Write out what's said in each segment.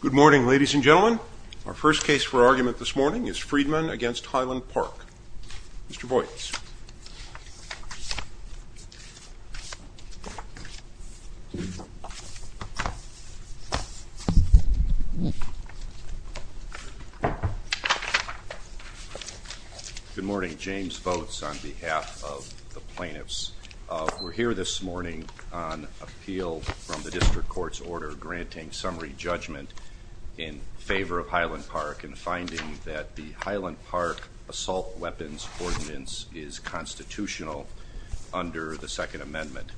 Good morning, ladies and gentlemen. Our first case for argument this morning is Friedman v. Highland Park. Mr. Boyce. Good morning. James Boats on behalf of the plaintiffs. We're here this morning on appeal from the district court's order granting summary judgment in favor of Highland Park and finding that the Highland Park assault weapons ordinance is constitutional under the Second Amendment.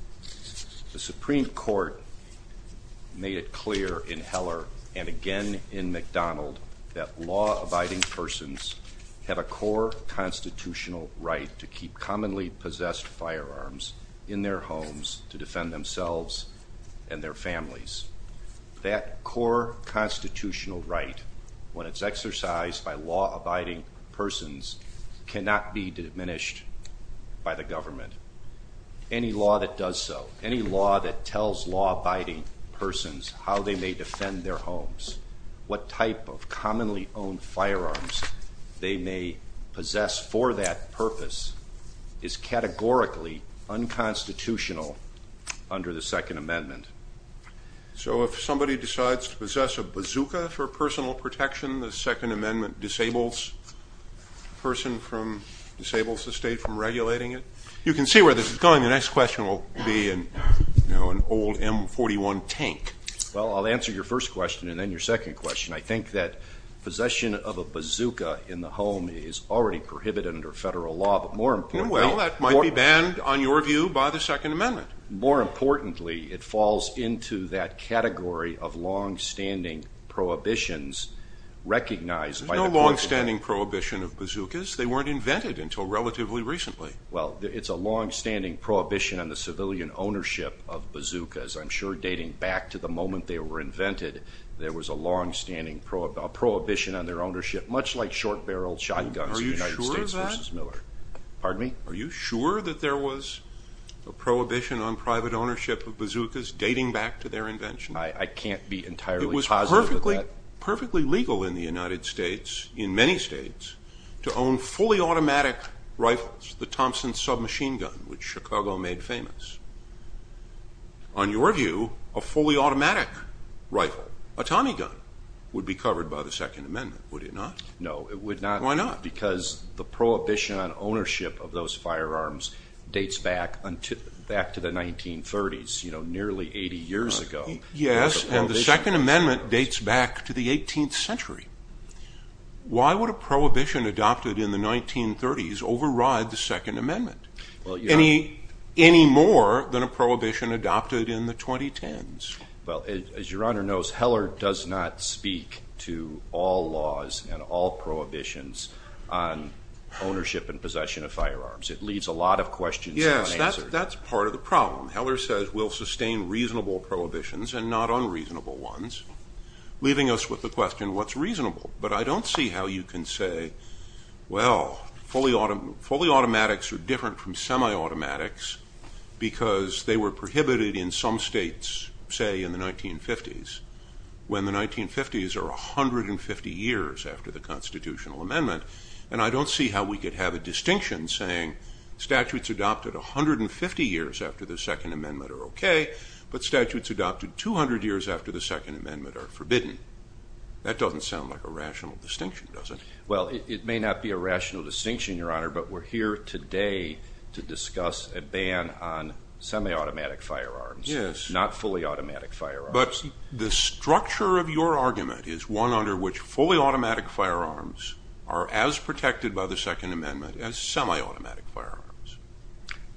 The Supreme Court made it clear in Heller and again in McDonald that law-abiding persons have a core constitutional right to keep commonly-possessed firearms in their homes to defend themselves and their families. That core constitutional right, when it's exercised by law-abiding persons, cannot be diminished by the government. Any law that does so, any law that tells law-abiding persons how they may defend their homes, what type of commonly-owned firearms they may possess for that purpose, is categorically unconstitutional under the Second Amendment. So if somebody decides to possess a bazooka for personal protection, the Second Amendment disables the state from regulating it? You can see where this is going. The next question will be an old M-41 tank. Well, I'll answer your first question and then your second question. I think that possession of a bazooka in the home is already prohibited under federal law, but more importantly... Well, that might be banned, in your view, by the Second Amendment. More importantly, it falls into that category of long-standing prohibitions recognized by the court... There's no long-standing prohibition of bazookas. They weren't invented until relatively recently. Well, it's a long-standing prohibition on the civilian ownership of bazookas. I'm sure dating back to the moment they were invented, there was a long-standing prohibition on their ownership, much like short-barreled shotguns in the United States v. Miller. Are you sure of that? Pardon me? Are you sure that there was a prohibition on private ownership of bazookas dating back to their invention? I can't be entirely positive of that. It was perfectly legal in the United States, in many states, to own fully automatic rifles, the Thompson submachine gun, which Chicago made famous. On your view, a fully automatic rifle, a Tommy gun, would be covered by the Second Amendment, would it not? No, it would not. Why not? Because the prohibition on ownership of those firearms dates back to the 1930s, nearly 80 years ago. Yes, and the Second Amendment dates back to the 18th century. Why would a prohibition adopted in the 1930s override the Second Amendment, any more than a prohibition adopted in the 2010s? Well, as your Honor knows, Heller does not speak to all laws and all prohibitions on ownership and possession of firearms. It leaves a lot of questions unanswered. Yes, that's part of the problem. Heller says we'll sustain reasonable prohibitions and not unreasonable ones, leaving us with the question, what's reasonable? But I don't see how you can say, well, fully automatics are different from semi-automatics because they were prohibited in some states, say in the 1950s, when the 1950s are 150 years after the Constitutional Amendment. And I don't see how we could have a distinction saying statutes adopted 150 years after the Second Amendment are okay, but statutes adopted 200 years after the Second Amendment are forbidden. That doesn't sound like a rational distinction, does it? Well, it may not be a rational distinction, Your Honor, but we're here today to discuss a ban on semi-automatic firearms, not fully automatic firearms. But the structure of your argument is one under which fully automatic firearms are as protected by the Second Amendment as semi-automatic firearms.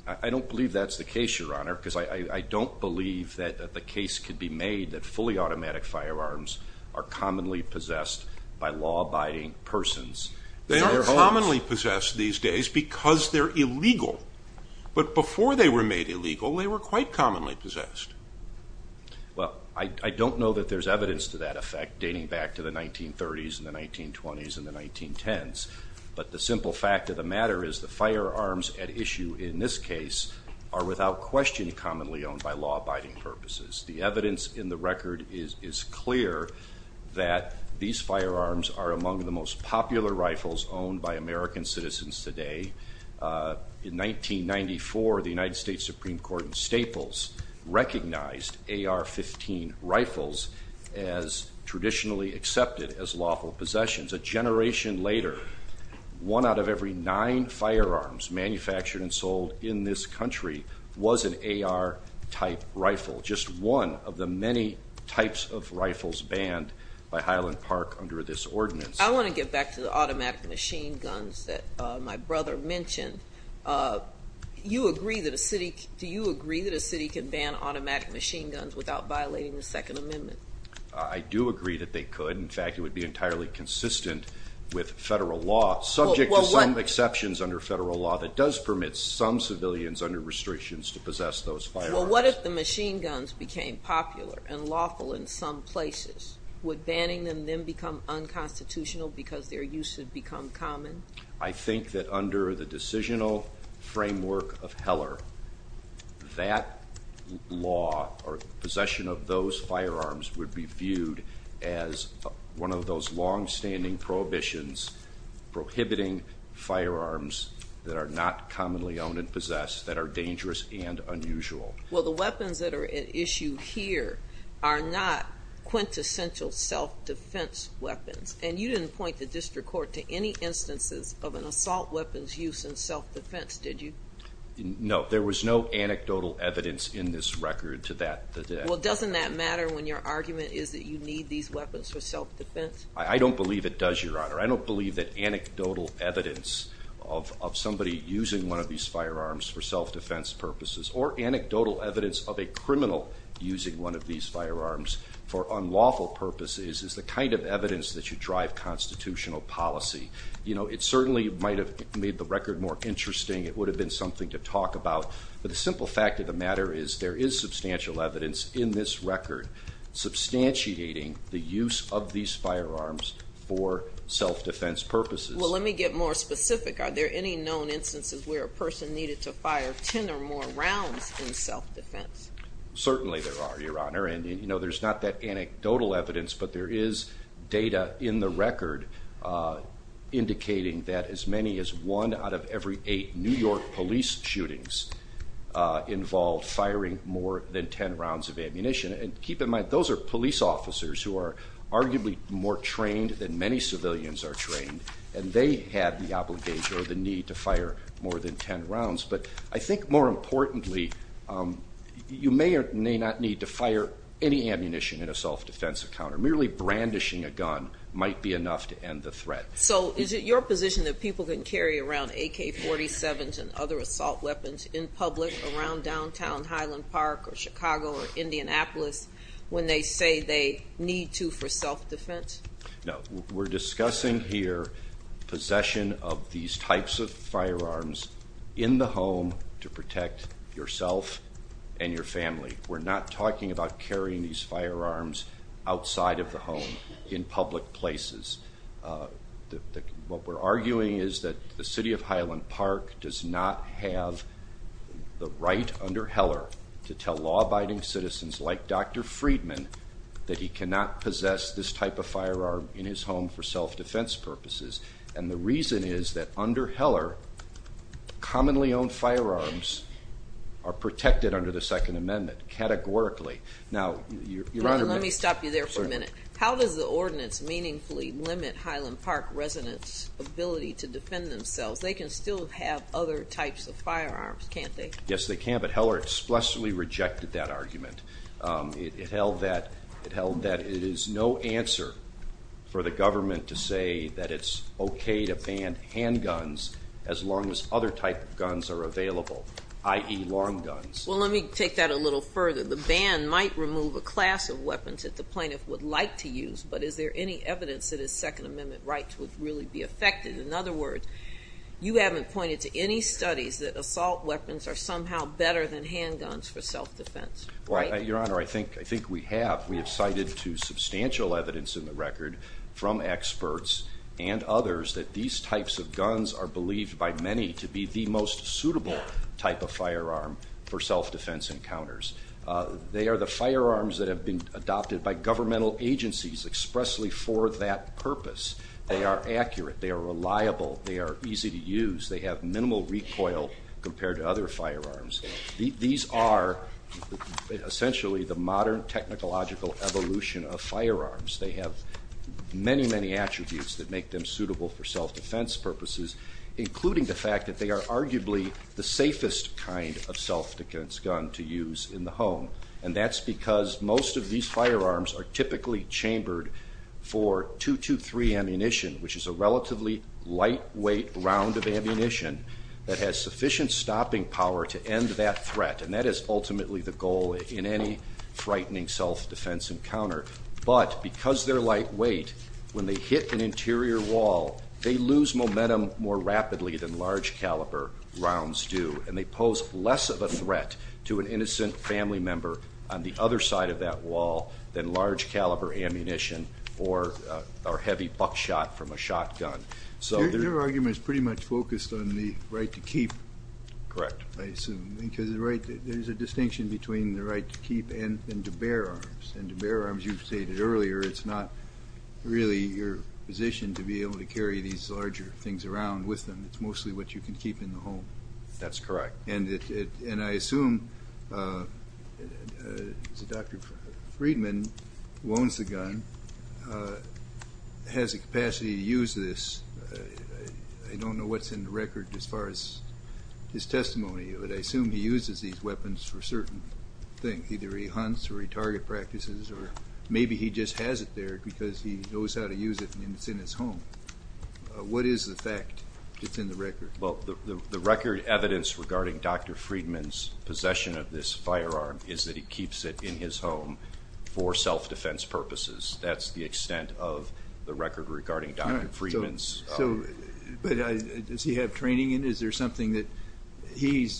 I don't believe that's the case, Your Honor, because I don't believe that the case could be made that fully automatic firearms are commonly possessed by law-abiding persons. They are commonly possessed these days because they're illegal. But before they were made illegal, they were quite commonly possessed. Well, I don't know that there's evidence to that effect dating back to the 1930s and the 1920s and the 1910s. But the simple fact of the matter is the firearms at issue in this case are without question commonly owned by law-abiding purposes. The evidence in the record is clear that these firearms are among the most popular rifles owned by American citizens today. In 1994, the United States Supreme Court in Staples recognized AR-15 rifles as traditionally accepted as lawful possessions. A generation later, one out of every nine firearms manufactured and sold in this country was an AR-type rifle, just one of the many types of rifles banned by Highland Park under this ordinance. I want to get back to the automatic machine guns that my brother mentioned. Do you agree that a city can ban automatic machine guns without violating the Second Amendment? I do agree that they could. In fact, it would be entirely consistent with federal law, subject to some exceptions under federal law, that does permit some civilians under restrictions to possess those firearms. Well, what if the machine guns became popular and lawful in some places? Would banning them then become unconstitutional because their use would become common? I think that under the decisional framework of Heller, that law or possession of those firearms would be viewed as one of those long-standing prohibitions prohibiting firearms that are not commonly owned and possessed that are dangerous and unusual. Well, the weapons that are at issue here are not quintessential self-defense weapons, and you didn't point the district court to any instances of an assault weapons use in self-defense, did you? No, there was no anecdotal evidence in this record to that. Well, doesn't that matter when your argument is that you need these weapons for self-defense? I don't believe it does, Your Honor. I don't believe that anecdotal evidence of somebody using one of these firearms for self-defense purposes or anecdotal evidence of a criminal using one of these firearms for unlawful purposes is the kind of evidence that should drive constitutional policy. You know, it certainly might have made the record more interesting. It would have been something to talk about. But the simple fact of the matter is there is substantial evidence in this record substantiating the use of these firearms for self-defense purposes. Well, let me get more specific. Are there any known instances where a person needed to fire 10 or more rounds in self-defense? Certainly there are, Your Honor, and, you know, there's not that anecdotal evidence, but there is data in the record indicating that as many as one out of every eight New York police shootings involved firing more than 10 rounds of ammunition. And keep in mind, those are police officers who are arguably more trained than many civilians are trained, and they had the obligation or the need to fire more than 10 rounds. But I think more importantly, you may or may not need to fire any ammunition in a self-defense encounter. Merely brandishing a gun might be enough to end the threat. So is it your position that people can carry around AK-47s and other assault weapons in public around downtown Highland Park or Chicago or Indianapolis when they say they need to for self-defense? No, we're discussing here possession of these types of firearms in the home to protect yourself and your family. We're not talking about carrying these firearms outside of the home in public places. What we're arguing is that the City of Highland Park does not have the right under Heller to tell law-abiding citizens like Dr. Friedman that he cannot possess this type of firearm in his home for self-defense purposes. And the reason is that under Heller, commonly owned firearms are protected under the Second Amendment categorically. Now, Your Honor, let me stop you there for a minute. How does the ordinance meaningfully limit Highland Park residents' ability to defend themselves? They can still have other types of firearms, can't they? Yes, they can, but Heller expressly rejected that argument. It held that it is no answer for the government to say that it's okay to ban handguns as long as other types of guns are available, i.e., long guns. Well, let me take that a little further. The ban might remove a class of weapons that the plaintiff would like to use, but is there any evidence that his Second Amendment rights would really be affected? In other words, you haven't pointed to any studies that assault weapons are somehow better than handguns for self-defense, right? Well, Your Honor, I think we have. We have cited to substantial evidence in the record from experts and others that these types of guns are believed by many to be the most suitable type of firearm for self-defense encounters. They are the firearms that have been adopted by governmental agencies expressly for that purpose. They are accurate. They are reliable. They are easy to use. They have minimal recoil compared to other firearms. These are essentially the modern technological evolution of firearms. They have many, many attributes that make them suitable for self-defense purposes, including the fact that they are arguably the safest kind of self-defense gun to use in the home, and that's because most of these firearms are typically chambered for .223 ammunition, which is a relatively lightweight round of ammunition that has sufficient stopping power to end that threat, and that is ultimately the goal in any frightening self-defense encounter. But because they're lightweight, when they hit an interior wall, they lose momentum more rapidly than large caliber rounds do, and they pose less of a threat to an innocent family member on the other side of that wall than large caliber ammunition or heavy buckshot from a shotgun. Your argument is pretty much focused on the right to keep. Correct. I assume, because there's a distinction between the right to keep and to bear arms, and to bear arms, you've stated earlier, it's not really your position to be able to carry these larger things around with them. It's mostly what you can keep in the home. That's correct. And I assume Dr. Friedman, who owns the gun, has the capacity to use this. I don't know what's in the record as far as his testimony, but I assume he uses these weapons for certain things. Either he hunts or he target practices, or maybe he just has it there because he knows how to use it and it's in his home. What is the fact that's in the record? Well, the record evidence regarding Dr. Friedman's possession of this firearm is that he keeps it in his home for self-defense purposes. That's the extent of the record regarding Dr. Friedman's. But does he have training in it? Is there something that he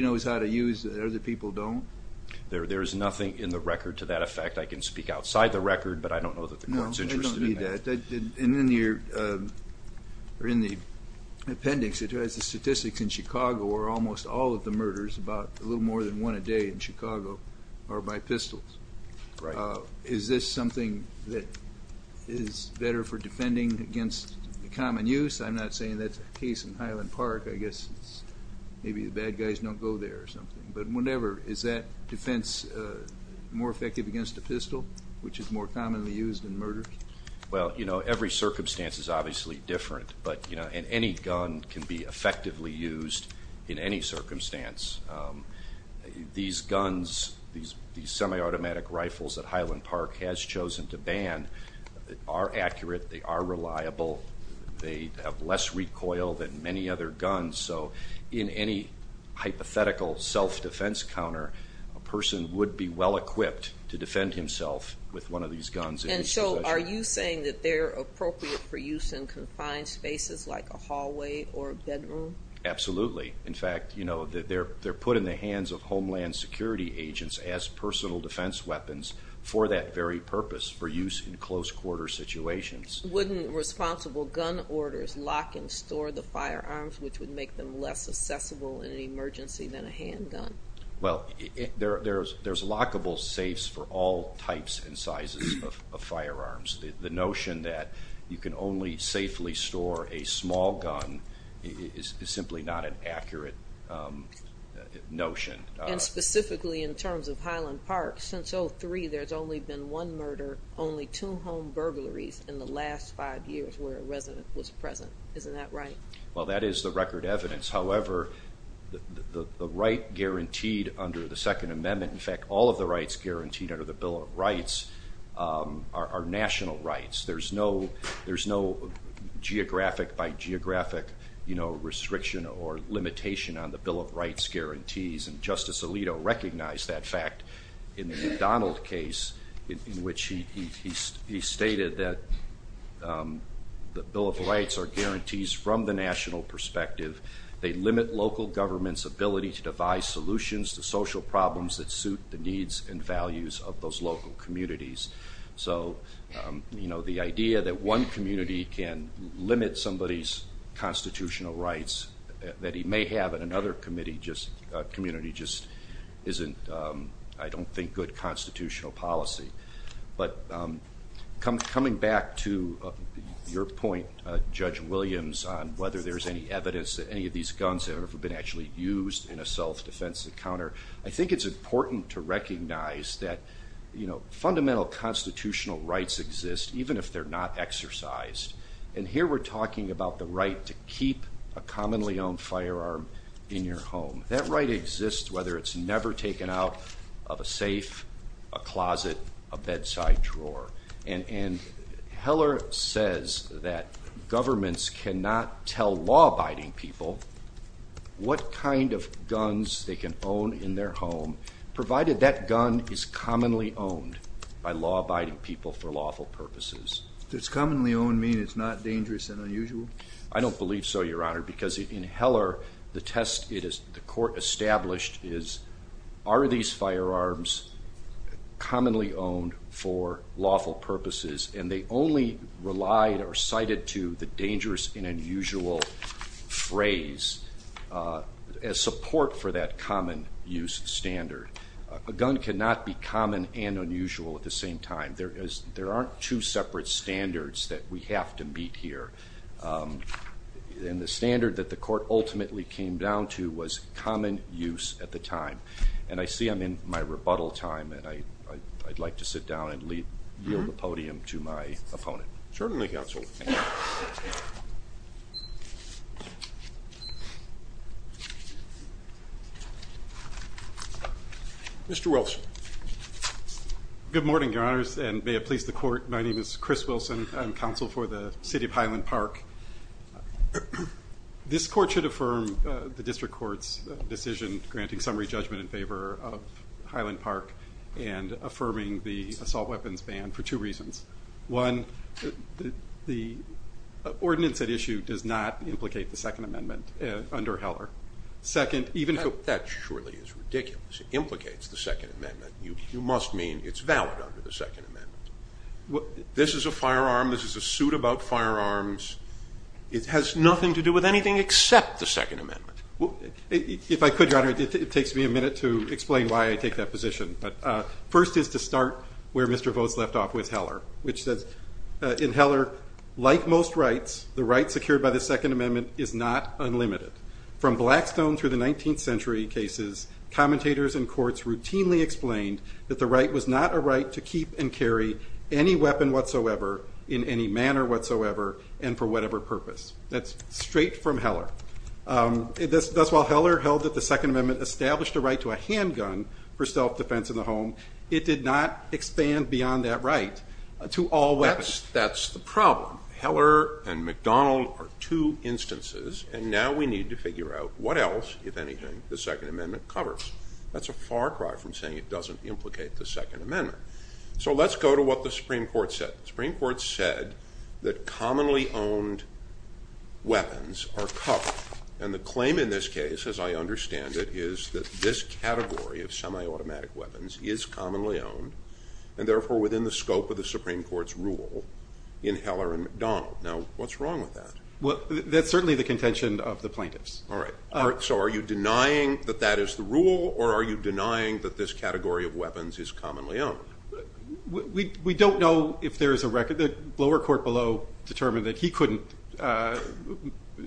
knows how to use that other people don't? There is nothing in the record to that effect. I can speak outside the record, but I don't know that the court is interested in that. In the appendix, it has the statistics in Chicago where almost all of the murders, about a little more than one a day in Chicago, are by pistols. Is this something that is better for defending against common use? I'm not saying that's the case in Highland Park. I guess maybe the bad guys don't go there or something. But whatever, is that defense more effective against a pistol, which is more commonly used in murder? Well, every circumstance is obviously different, and any gun can be effectively used in any circumstance. These guns, these semi-automatic rifles that Highland Park has chosen to ban, are accurate, they are reliable, they have less recoil than many other guns. So in any hypothetical self-defense counter, a person would be well-equipped to defend himself with one of these guns. And so are you saying that they're appropriate for use in confined spaces like a hallway or a bedroom? Absolutely. In fact, they're put in the hands of Homeland Security agents as personal defense weapons for that very purpose, for use in close-quarter situations. Wouldn't responsible gun orders lock and store the firearms, which would make them less accessible in an emergency than a handgun? Well, there's lockable safes for all types and sizes of firearms. The notion that you can only safely store a small gun is simply not an accurate notion. And specifically in terms of Highland Park, since 2003, there's only been one murder, only two home burglaries, in the last five years where a resident was present. Isn't that right? Well, that is the record evidence. However, the right guaranteed under the Second Amendment, in fact all of the rights guaranteed under the Bill of Rights, are national rights. There's no geographic by geographic restriction or limitation on the Bill of Rights guarantees. And Justice Alito recognized that fact in the McDonald case in which he stated that the Bill of Rights are guarantees from the national perspective. They limit local governments' ability to devise solutions to social problems that suit the needs and values of those local communities. So the idea that one community can limit somebody's constitutional rights that he may have in another community just isn't, I don't think, good constitutional policy. But coming back to your point, Judge Williams, on whether there's any evidence that any of these guns have been actually used in a self-defense encounter, I think it's important to recognize that fundamental constitutional rights exist even if they're not exercised. And here we're talking about the right to keep a commonly owned firearm in your home. That right exists whether it's never taken out of a safe, a closet, a bedside drawer. And Heller says that governments cannot tell law-abiding people what kind of guns they can own in their home provided that gun is commonly owned by law-abiding people for lawful purposes. Does commonly owned mean it's not dangerous and unusual? I don't believe so, Your Honor, because in Heller, the test the court established is, are these firearms commonly owned for lawful purposes? And they only relied or cited to the dangerous and unusual phrase as support for that common use standard. A gun cannot be common and unusual at the same time. There aren't two separate standards that we have to meet here. And the standard that the court ultimately came down to was common use at the time. And I see I'm in my rebuttal time, and I'd like to sit down and yield the podium to my opponent. Certainly, Counsel. Mr. Wilson. Good morning, Your Honors, and may it please the court, my name is Chris Wilson. I'm counsel for the city of Highland Park. This court should affirm the district court's decision granting summary judgment in favor of Highland Park and affirming the assault weapons ban for two reasons. One, the ordinance at issue does not implicate the Second Amendment under Heller. That surely is ridiculous. It implicates the Second Amendment. You must mean it's valid under the Second Amendment. This is a firearm. This is a suit about firearms. It has nothing to do with anything except the Second Amendment. If I could, Your Honor, it takes me a minute to explain why I take that position. But first is to start where Mr. Vogt's left off with Heller, which says in Heller, like most rights, the right secured by the Second Amendment is not unlimited. From Blackstone through the 19th century cases, commentators in courts routinely explained that the right was not a right to keep and carry any weapon whatsoever in any manner whatsoever and for whatever purpose. That's straight from Heller. Thus, while Heller held that the Second Amendment established a right to a handgun for self-defense in the home, it did not expand beyond that right to all weapons. That's the problem. Heller and McDonald are two instances, and now we need to figure out what else, if anything, the Second Amendment covers. That's a far cry from saying it doesn't implicate the Second Amendment. So let's go to what the Supreme Court said. The Supreme Court said that commonly owned weapons are covered, and the claim in this case, as I understand it, is that this category of semi-automatic weapons is commonly owned and, therefore, within the scope of the Supreme Court's rule in Heller and McDonald. Now, what's wrong with that? Well, that's certainly the contention of the plaintiffs. All right. So are you denying that that is the rule, or are you denying that this category of weapons is commonly owned? We don't know if there is a record. The lower court below determined that he couldn't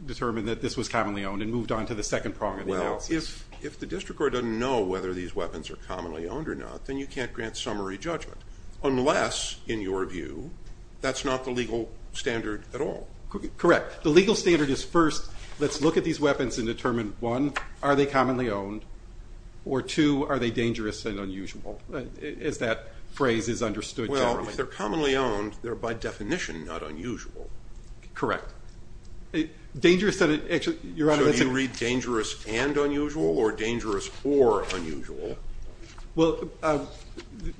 determine that this was commonly owned and moved on to the second prong of the analysis. Well, if the district court doesn't know whether these weapons are commonly owned or not, then you can't grant summary judgment, unless, in your view, that's not the legal standard at all. Correct. The legal standard is, first, let's look at these weapons and determine, one, are they commonly owned, or, two, are they dangerous and unusual, as that phrase is understood generally. Well, if they're commonly owned, they're by definition not unusual. Correct. So do you read dangerous and unusual, or dangerous for unusual? Well,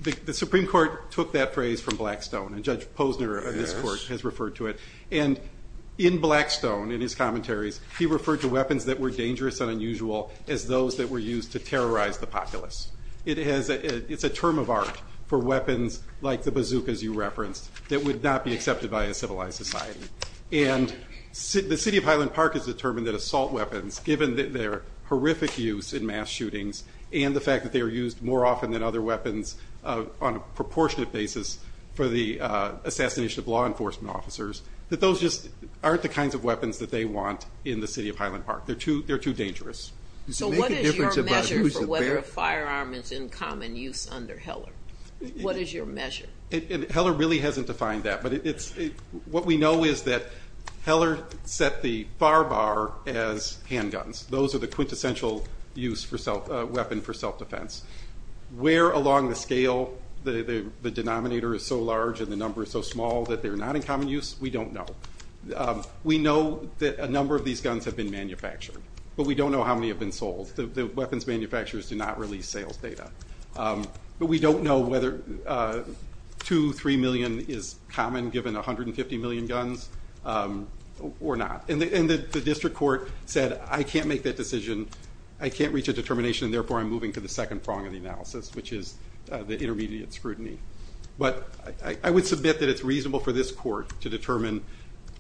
the Supreme Court took that phrase from Blackstone, and Judge Posner of this court has referred to it. And in Blackstone, in his commentaries, he referred to weapons that were dangerous and unusual as those that were used to terrorize the populace. It's a term of art for weapons like the bazookas you referenced that would not be accepted by a civilized society. And the city of Highland Park has determined that assault weapons, given their horrific use in mass shootings and the fact that they are used more often than other weapons on a proportionate basis for the assassination of law enforcement officers, that those just aren't the kinds of weapons that they want in the city of Highland Park. They're too dangerous. So what is your measure for whether a firearm is in common use under Heller? What is your measure? Heller really hasn't defined that, but what we know is that Heller set the far bar as handguns. Those are the quintessential weapon for self-defense. Where along the scale the denominator is so large and the number is so small that they're not in common use, we don't know. We know that a number of these guns have been manufactured, but we don't know how many have been sold. The weapons manufacturers do not release sales data. But we don't know whether two, three million is common given 150 million guns or not. And the district court said I can't make that decision, I can't reach a determination, and therefore I'm moving to the second prong of the analysis, which is the intermediate scrutiny. But I would submit that it's reasonable for this court to determine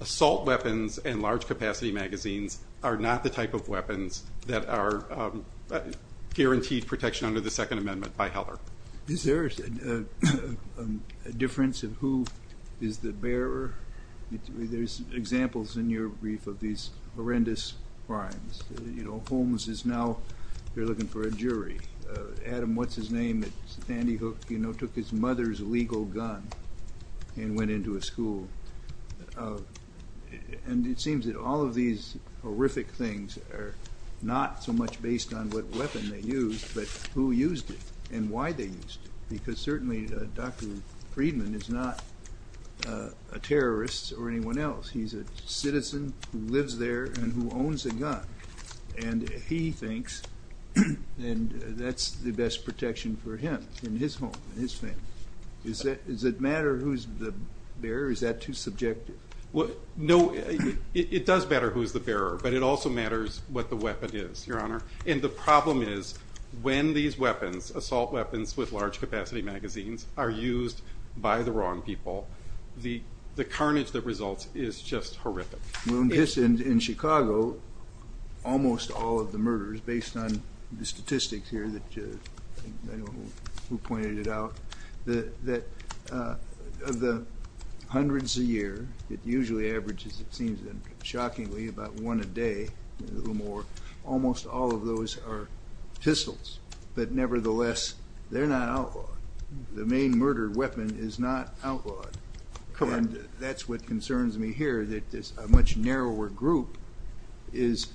assault weapons and large capacity magazines are not the type of weapons that are guaranteed protection under the Second Amendment by Heller. Is there a difference of who is the bearer? There's examples in your brief of these horrendous crimes. Holmes is now looking for a jury. Adam, what's his name at Sandy Hook, took his mother's legal gun and went into a school. And it seems that all of these horrific things are not so much based on what weapon they used, but who used it and why they used it. Because certainly Dr. Friedman is not a terrorist or anyone else. He's a citizen who lives there and who owns a gun. And he thinks that's the best protection for him in his home, in his family. Does it matter who's the bearer? Is that too subjective? No, it does matter who's the bearer, but it also matters what the weapon is, Your Honor. And the problem is when these weapons, assault weapons with large capacity magazines, are used by the wrong people, the carnage that results is just horrific. In Chicago, almost all of the murders, based on the statistics here that pointed it out, of the hundreds a year, it usually averages, it seems then, shockingly, about one a day, almost all of those are pistols. But nevertheless, they're not outlawed. The main murder weapon is not outlawed. And that's what concerns me here, that this much narrower group is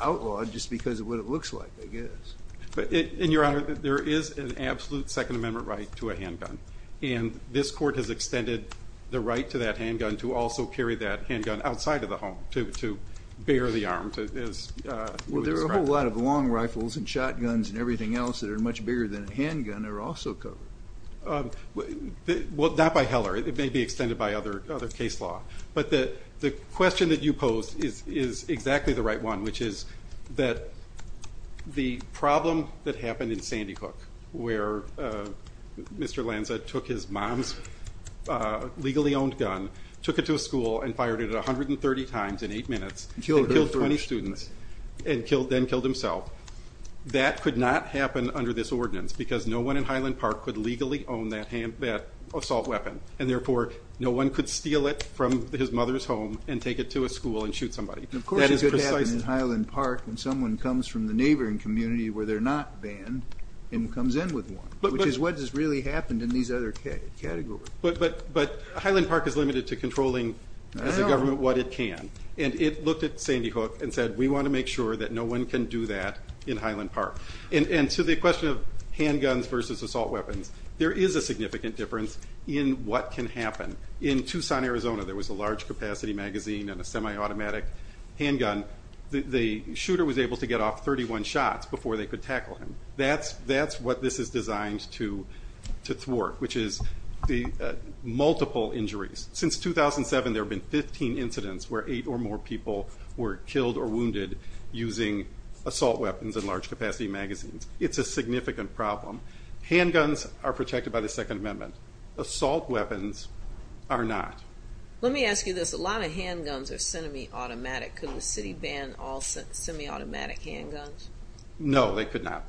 outlawed just because of what it looks like, I guess. And, Your Honor, there is an absolute Second Amendment right to a handgun. And this court has extended the right to that handgun to also carry that handgun outside of the home, to bear the arm. Well, there are a whole lot of long rifles and shotguns and everything else that are much bigger than a handgun that are also covered. Well, not by Heller. It may be extended by other case law. But the question that you posed is exactly the right one, which is that the problem that happened in Sandy Hook, where Mr. Lanza took his mom's legally owned gun, took it to a school, and fired it 130 times in eight minutes, and killed 20 students, and then killed himself, that could not happen under this ordinance because no one in Highland Park could legally own that assault weapon. And therefore, no one could steal it from his mother's home and take it to a school and shoot somebody. Of course it could happen in Highland Park when someone comes from the neighboring community where they're not banned and comes in with one, which is what has really happened in these other categories. But Highland Park is limited to controlling, as a government, what it can. And it looked at Sandy Hook and said, we want to make sure that no one can do that in Highland Park. And to the question of handguns versus assault weapons, there is a significant difference in what can happen. In Tucson, Arizona, there was a large capacity magazine and a semi-automatic handgun. The shooter was able to get off 31 shots before they could tackle him. That's what this is designed to thwart, which is the multiple injuries. Since 2007, there have been 15 incidents where eight or more people were killed or wounded using assault weapons and large capacity magazines. It's a significant problem. Handguns are protected by the Second Amendment. Assault weapons are not. Let me ask you this. A lot of handguns are semi-automatic. Could the city ban all semi-automatic handguns? No, they could not.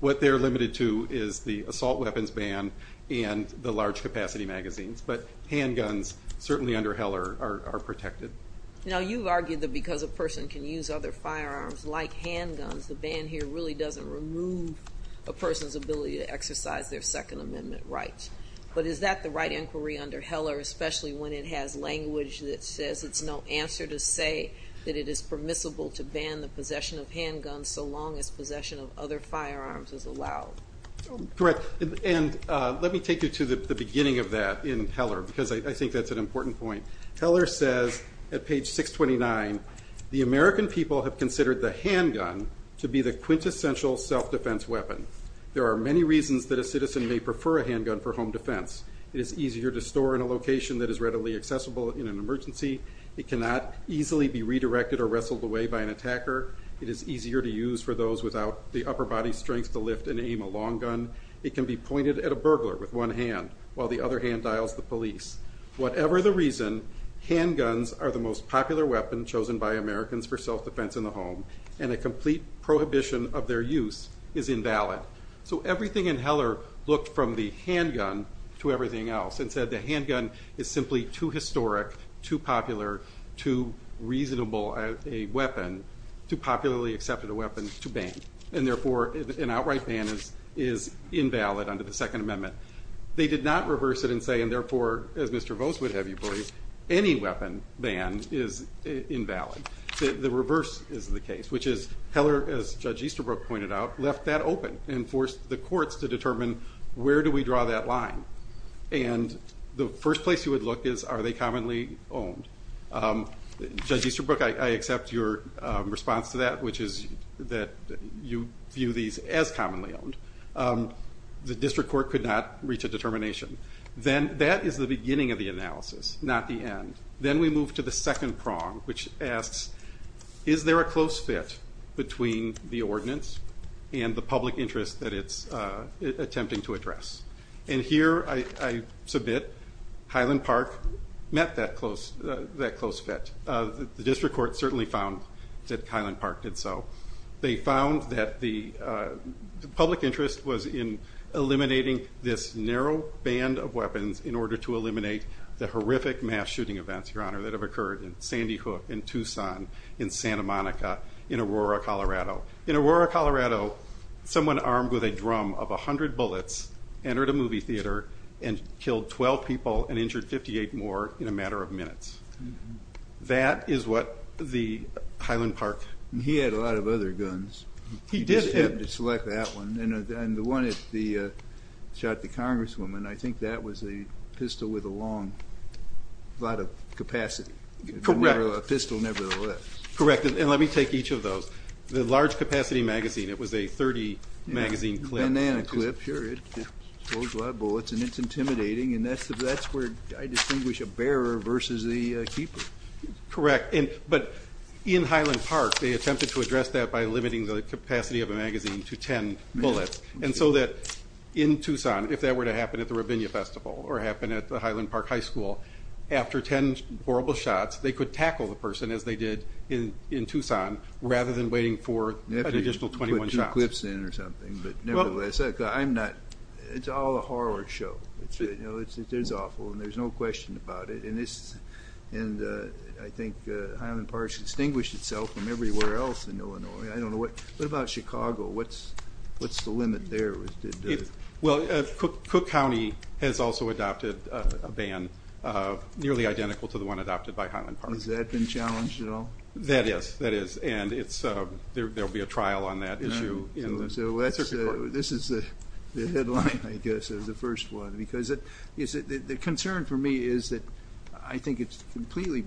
What they're limited to is the assault weapons ban and the large capacity magazines. But handguns, certainly under Heller, are protected. You've argued that because a person can use other firearms like handguns, the ban here really doesn't remove a person's ability to exercise their Second Amendment rights. But is that the right inquiry under Heller, especially when it has language that says it's no answer to say that it is permissible to ban the possession of handguns so long as possession of other firearms is allowed? Correct. Let me take you to the beginning of that in Heller because I think that's an important point. Heller says at page 629, the American people have considered the handgun to be the quintessential self-defense weapon. There are many reasons that a citizen may prefer a handgun for home defense. It is easier to store in a location that is readily accessible in an emergency. It cannot easily be redirected or wrestled away by an attacker. It is easier to use for those without the upper-body strength to lift and aim a long gun. It can be pointed at a burglar with one hand while the other hand dials the police. Whatever the reason, handguns are the most popular weapon chosen by Americans for self-defense in the home, and a complete prohibition of their use is invalid. So everything in Heller looked from the handgun to everything else and said the handgun is simply too historic, too popular, too reasonable a weapon, too popularly accepted a weapon to ban, and therefore an outright ban is invalid under the Second Amendment. They did not reverse it and say, and therefore, as Mr. Vose would have you believe, any weapon ban is invalid. The reverse is the case, which is Heller, as Judge Easterbrook pointed out, left that open and forced the courts to determine where do we draw that line? And the first place you would look is are they commonly owned? Judge Easterbrook, I accept your response to that, which is that you view these as commonly owned. The district court could not reach a determination. That is the beginning of the analysis, not the end. Then we move to the second prong, which asks, is there a close fit between the ordinance and the public interest that it's attempting to address? And here I submit Highland Park met that close fit. The district court certainly found that Highland Park did so. They found that the public interest was in eliminating this narrow band of weapons in order to eliminate the horrific mass shooting events, Your Honor, that have occurred in Sandy Hook, in Tucson, in Santa Monica, in Aurora, Colorado. In Aurora, Colorado, someone armed with a drum of 100 bullets entered a movie theater and killed 12 people and injured 58 more in a matter of minutes. That is what the Highland Park... He had a lot of other guns. He did have... And the one that shot the congresswoman, I think that was a pistol with a lot of capacity. Correct. A pistol nevertheless. Correct. And let me take each of those. The large capacity magazine, it was a 30-magazine clip. Banana clip, sure. It holds a lot of bullets, and it's intimidating, and that's where I distinguish a bearer versus the keeper. Correct. But in Highland Park, they attempted to address that by limiting the capacity of a magazine to 10 bullets, and so that in Tucson, if that were to happen at the Rabinia Festival or happen at the Highland Park High School, after 10 horrible shots, they could tackle the person, as they did in Tucson, rather than waiting for an additional 21 shots. You have to put two clips in or something. But nevertheless, I'm not... It's all a horror show. It is awful, and there's no question about it. And I think Highland Park has distinguished itself from everywhere else in Illinois. What about Chicago? What's the limit there? Well, Cook County has also adopted a ban nearly identical to the one adopted by Highland Park. Has that been challenged at all? That is, that is. And there will be a trial on that issue in the circuit court. So this is the headline, I guess, of the first one. Because the concern for me is that I think it's completely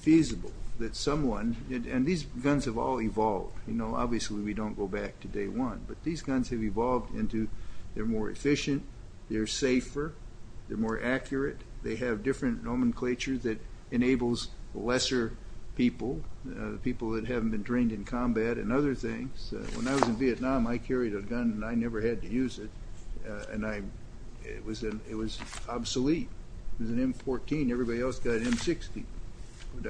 feasible that someone... And these guns have all evolved. Obviously, we don't go back to day one. But these guns have evolved into they're more efficient, they're safer, they're more accurate. They have different nomenclatures that enables lesser people, people that haven't been trained in combat and other things. When I was in Vietnam, I carried a gun, and I never had to use it. And it was obsolete. It was an M14. Everybody else got an M60.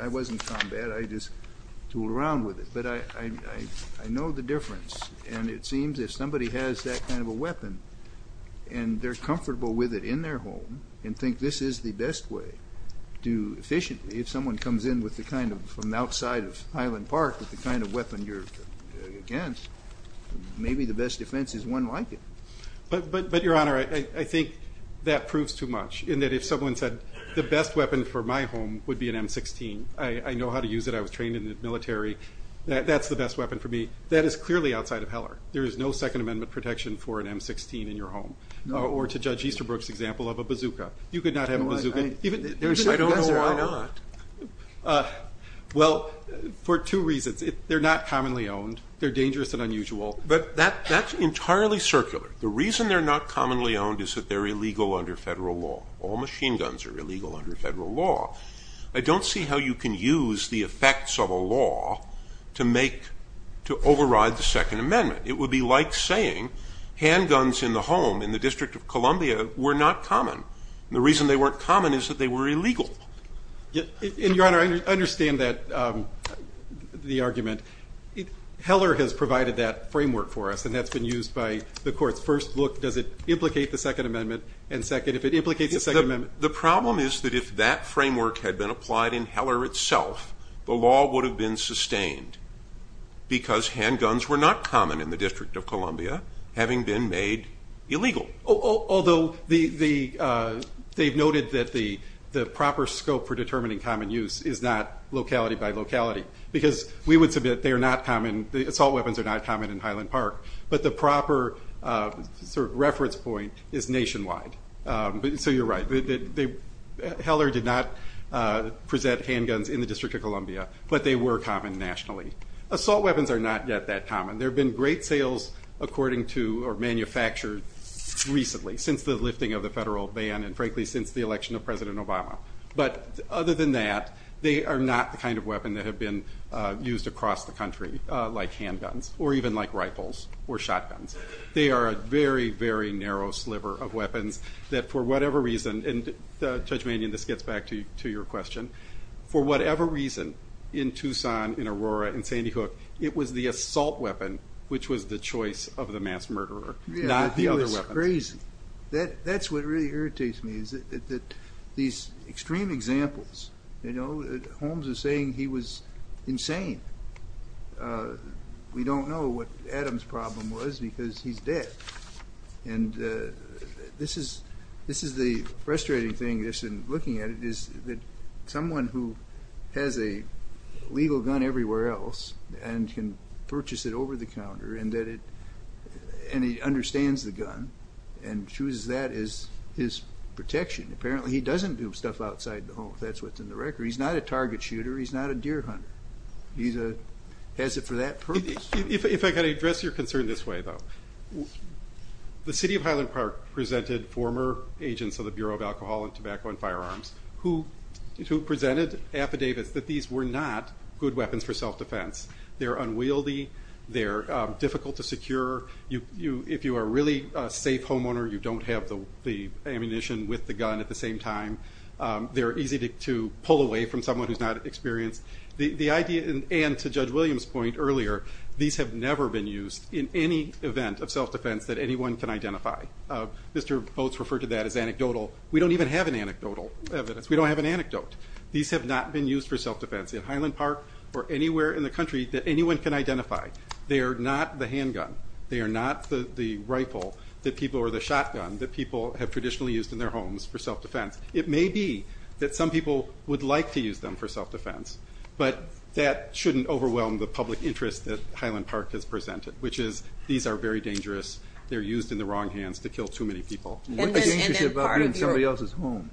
I wasn't in combat. I just tooled around with it. But I know the difference. And it seems if somebody has that kind of a weapon and they're comfortable with it in their home and think this is the best way to do efficiently, if someone comes in from outside of Highland Park with the kind of weapon you're against, maybe the best defense is one like it. But, Your Honor, I think that proves too much, in that if someone said the best weapon for my home would be an M16, I know how to use it, I was trained in the military, that's the best weapon for me. That is clearly outside of Heller. There is no Second Amendment protection for an M16 in your home. Or to Judge Easterbrook's example of a bazooka. You could not have a bazooka. I don't know why not. Well, for two reasons. They're not commonly owned. They're dangerous and unusual. But that's entirely circular. The reason they're not commonly owned is that they're illegal under federal law. All machine guns are illegal under federal law. I don't see how you can use the effects of a law to override the Second Amendment. It would be like saying handguns in the home, in the District of Columbia, were not common. And the reason they weren't common is that they were illegal. And, Your Honor, I understand the argument. Heller has provided that framework for us, and that's been used by the courts. First, look, does it implicate the Second Amendment? And second, if it implicates the Second Amendment... The problem is that if that framework had been applied in Heller itself, the law would have been sustained because handguns were not common in the District of Columbia, having been made illegal. Although they've noted that the proper scope for determining common use is not locality by locality. Because we would submit they are not common, the assault weapons are not common in Highland Park, but the proper reference point is nationwide. So you're right. Heller did not present handguns in the District of Columbia, but they were common nationally. Assault weapons are not yet that common. There have been great sales according to, or manufactured recently, since the lifting of the federal ban and, frankly, since the election of President Obama. But other than that, they are not the kind of weapon that have been used across the country. Like handguns, or even like rifles, or shotguns. They are a very, very narrow sliver of weapons that for whatever reason, and Judge Manion, this gets back to your question, for whatever reason, in Tucson, in Aurora, in Sandy Hook, it was the assault weapon which was the choice of the mass murderer, not the other weapons. Yeah, he was crazy. That's what really irritates me, is that these extreme examples, Holmes is saying he was insane. We don't know what Adam's problem was, because he's dead. And this is the frustrating thing, just in looking at it, is that someone who has a legal gun everywhere else and can purchase it over the counter, and he understands the gun, and chooses that as his protection. Apparently he doesn't do stuff outside the home, if that's what's in the record. He's not a target shooter. He's not a deer hunter. He has it for that purpose. If I could address your concern this way, though. The city of Highland Park presented former agents of the Bureau of Alcohol and Tobacco and Firearms, who presented affidavits that these were not good weapons for self-defense. They're unwieldy. They're difficult to secure. If you are a really safe homeowner, you don't have the ammunition with the gun at the same time. They're easy to pull away from someone who's not experienced. The idea, and to Judge Williams' point earlier, these have never been used in any event of self-defense that anyone can identify. Mr. Boats referred to that as anecdotal. We don't even have an anecdotal evidence. We don't have an anecdote. These have not been used for self-defense in Highland Park or anywhere in the country that anyone can identify. They are not the handgun. They are not the rifle or the shotgun that people have traditionally used in their homes for self-defense. It may be that some people would like to use them for self-defense, but that shouldn't overwhelm the public interest that Highland Park has presented, which is these are very dangerous. They're used in the wrong hands to kill too many people. What's dangerous about being in somebody else's home?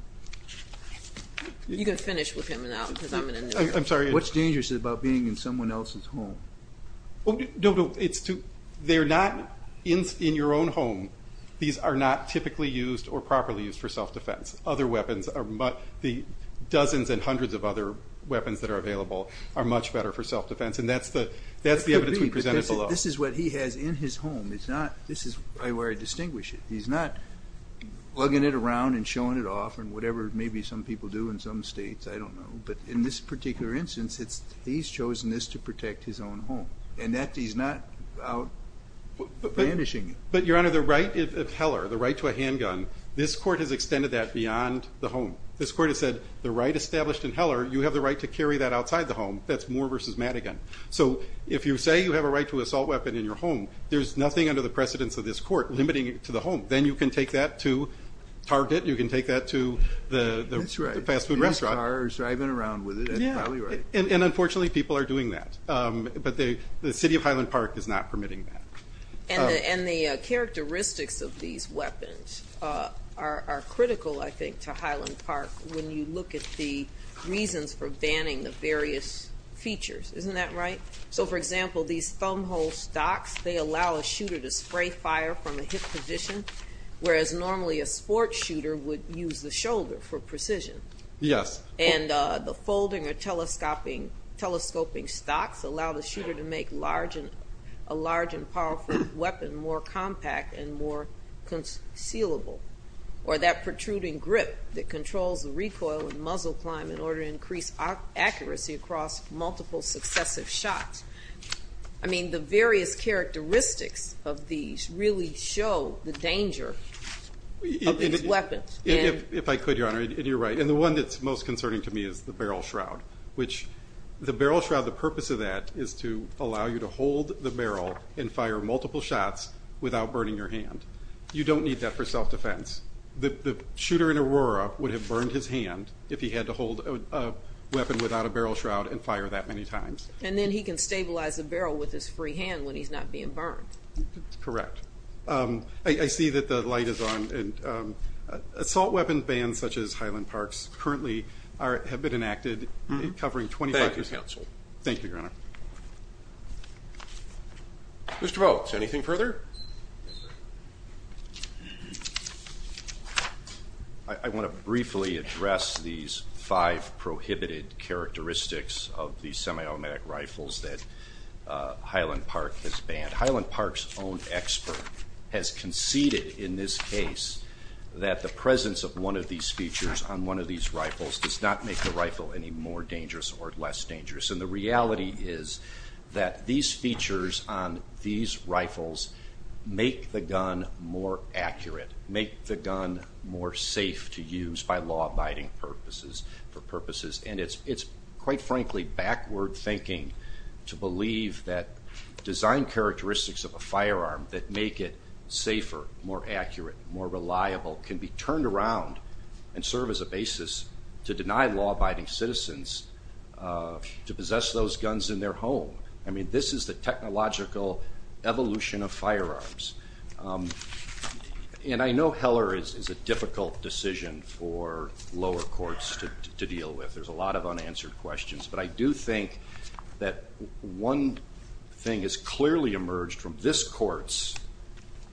You can finish with him now because I'm going to interrupt. I'm sorry. What's dangerous about being in someone else's home? They're not in your own home. These are not typically used or properly used for self-defense. The dozens and hundreds of other weapons that are available are much better for self-defense, and that's the evidence we presented below. This is what he has in his home. This is where I distinguish it. He's not plugging it around and showing it off and whatever maybe some people do in some states, I don't know. But in this particular instance, he's chosen this to protect his own home, and he's not out banishing it. But, Your Honor, the right of Heller, the right to a handgun, this court has extended that beyond the home. This court has said the right established in Heller, you have the right to carry that outside the home. That's Moore v. Madigan. So if you say you have a right to an assault weapon in your home, there's nothing under the precedence of this court limiting it to the home. Then you can take that to Target. You can take that to the fast food restaurant. You can take that to a car driving around with it. That's probably right. And unfortunately, people are doing that. But the city of Highland Park is not permitting that. And the characteristics of these weapons are critical, I think, to Highland Park when you look at the reasons for banning the various features. Isn't that right? So, for example, these thumbhole stocks, they allow a shooter to spray fire from a hip position, whereas normally a sports shooter would use the shoulder for precision. Yes. And the folding or telescoping stocks allow the shooter to make a large and powerful weapon more compact and more concealable. Or that protruding grip that controls the recoil and muzzle climb in order to increase accuracy across multiple successive shots. I mean, the various characteristics of these really show the danger of these weapons. If I could, Your Honor, and you're right. And the one that's most concerning to me is the barrel shroud, which the barrel shroud, the purpose of that is to allow you to hold the barrel and fire multiple shots without burning your hand. You don't need that for self-defense. The shooter in Aurora would have burned his hand if he had to hold a weapon without a barrel shroud and fire that many times. And then he can stabilize the barrel with his free hand when he's not being burned. Correct. I see that the light is on. Assault weapons bans such as Highland Park's currently have been enacted covering 25 years. Thank you, counsel. Thank you, Your Honor. Mr. Volk, anything further? I want to briefly address these five prohibited characteristics of the semi-automatic rifles that Highland Park has banned. Highland Park's own expert has conceded in this case that the presence of one of these features on one of these rifles does not make the rifle any more dangerous or less dangerous. And the reality is that these features on these rifles make the gun more accurate, make the gun more safe to use by law-abiding purposes. And it's, quite frankly, backward thinking to believe that design characteristics of a firearm that make it safer, more accurate, more reliable can be turned around and serve as a basis to deny law-abiding citizens to possess those guns in their home. I mean, this is the technological evolution of firearms. And I know Heller is a difficult decision for lower courts to deal with. There's a lot of unanswered questions. But I do think that one thing has clearly emerged from this court's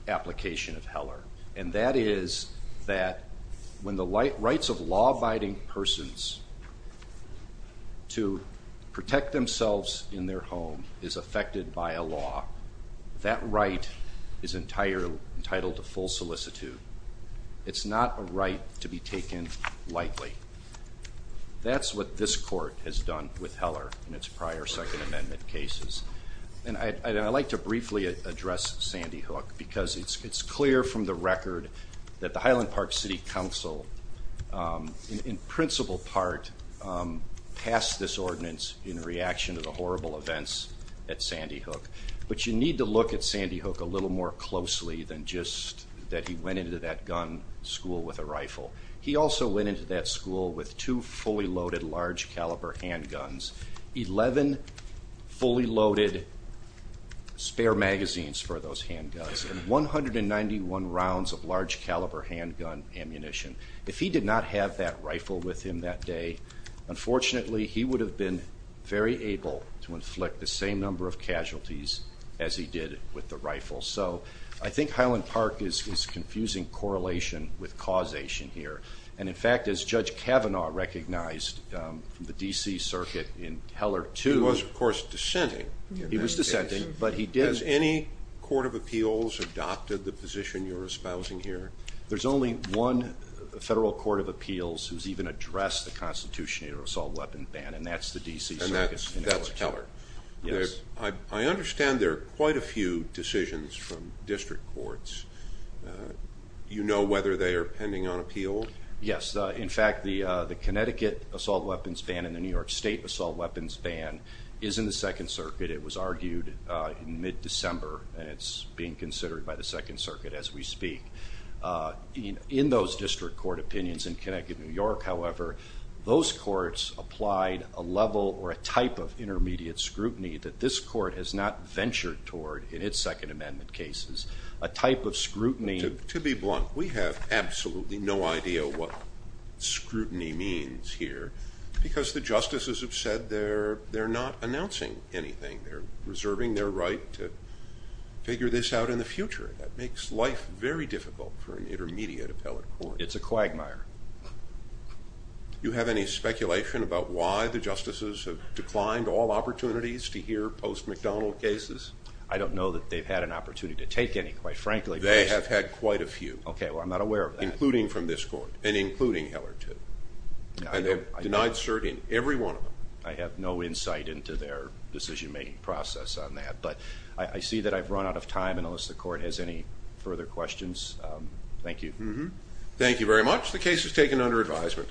application of Heller, and that is that when the rights of law-abiding persons to protect themselves in their home is affected by a law, that right is entitled to full solicitude. It's not a right to be taken lightly. That's what this court has done with Heller in its prior Second Amendment cases. And I'd like to briefly address Sandy Hook because it's clear from the record that the Highland Park City Council, in principal part, passed this ordinance in reaction to the horrible events at Sandy Hook. But you need to look at Sandy Hook a little more closely than just that he went into that gun school with a rifle. He also went into that school with two fully loaded large caliber handguns, 11 fully loaded spare magazines for those handguns, and 191 rounds of large caliber handgun ammunition. If he did not have that rifle with him that day, unfortunately, he would have been very able to inflict the same number of casualties as he did with the rifle. So I think Highland Park is confusing correlation with causation here. And, in fact, as Judge Kavanaugh recognized from the D.C. Circuit in Heller 2... He was, of course, dissenting. He was dissenting, but he did... Has any court of appeals adopted the position you're espousing here? There's only one federal court of appeals who's even addressed the constitutional assault weapon ban, and that's the D.C. Circuit in Heller. And that's Heller? Yes. I understand there are quite a few decisions from district courts. Do you know whether they are pending on appeal? Yes. In fact, the Connecticut assault weapons ban and the New York State assault weapons ban is in the Second Circuit. It was argued in mid-December, and it's being considered by the Second Circuit as we speak. In those district court opinions in Connecticut and New York, however, those courts applied a level or a type of intermediate scrutiny that this court has not ventured toward in its Second Amendment cases, a type of scrutiny... To be blunt, we have absolutely no idea what scrutiny means here because the justices have said they're not announcing anything. They're reserving their right to figure this out in the future. That makes life very difficult for an intermediate appellate court. It's a quagmire. Do you have any speculation about why the justices have declined all opportunities to hear post-McDonnell cases? I don't know that they've had an opportunity to take any, quite frankly. They have had quite a few. Okay, well, I'm not aware of that. Including from this court and including Heller, too. And they've denied cert in every one of them. I have no insight into their decision-making process on that. But I see that I've run out of time, and unless the court has any further questions, thank you. Thank you very much. The case is taken under advisement.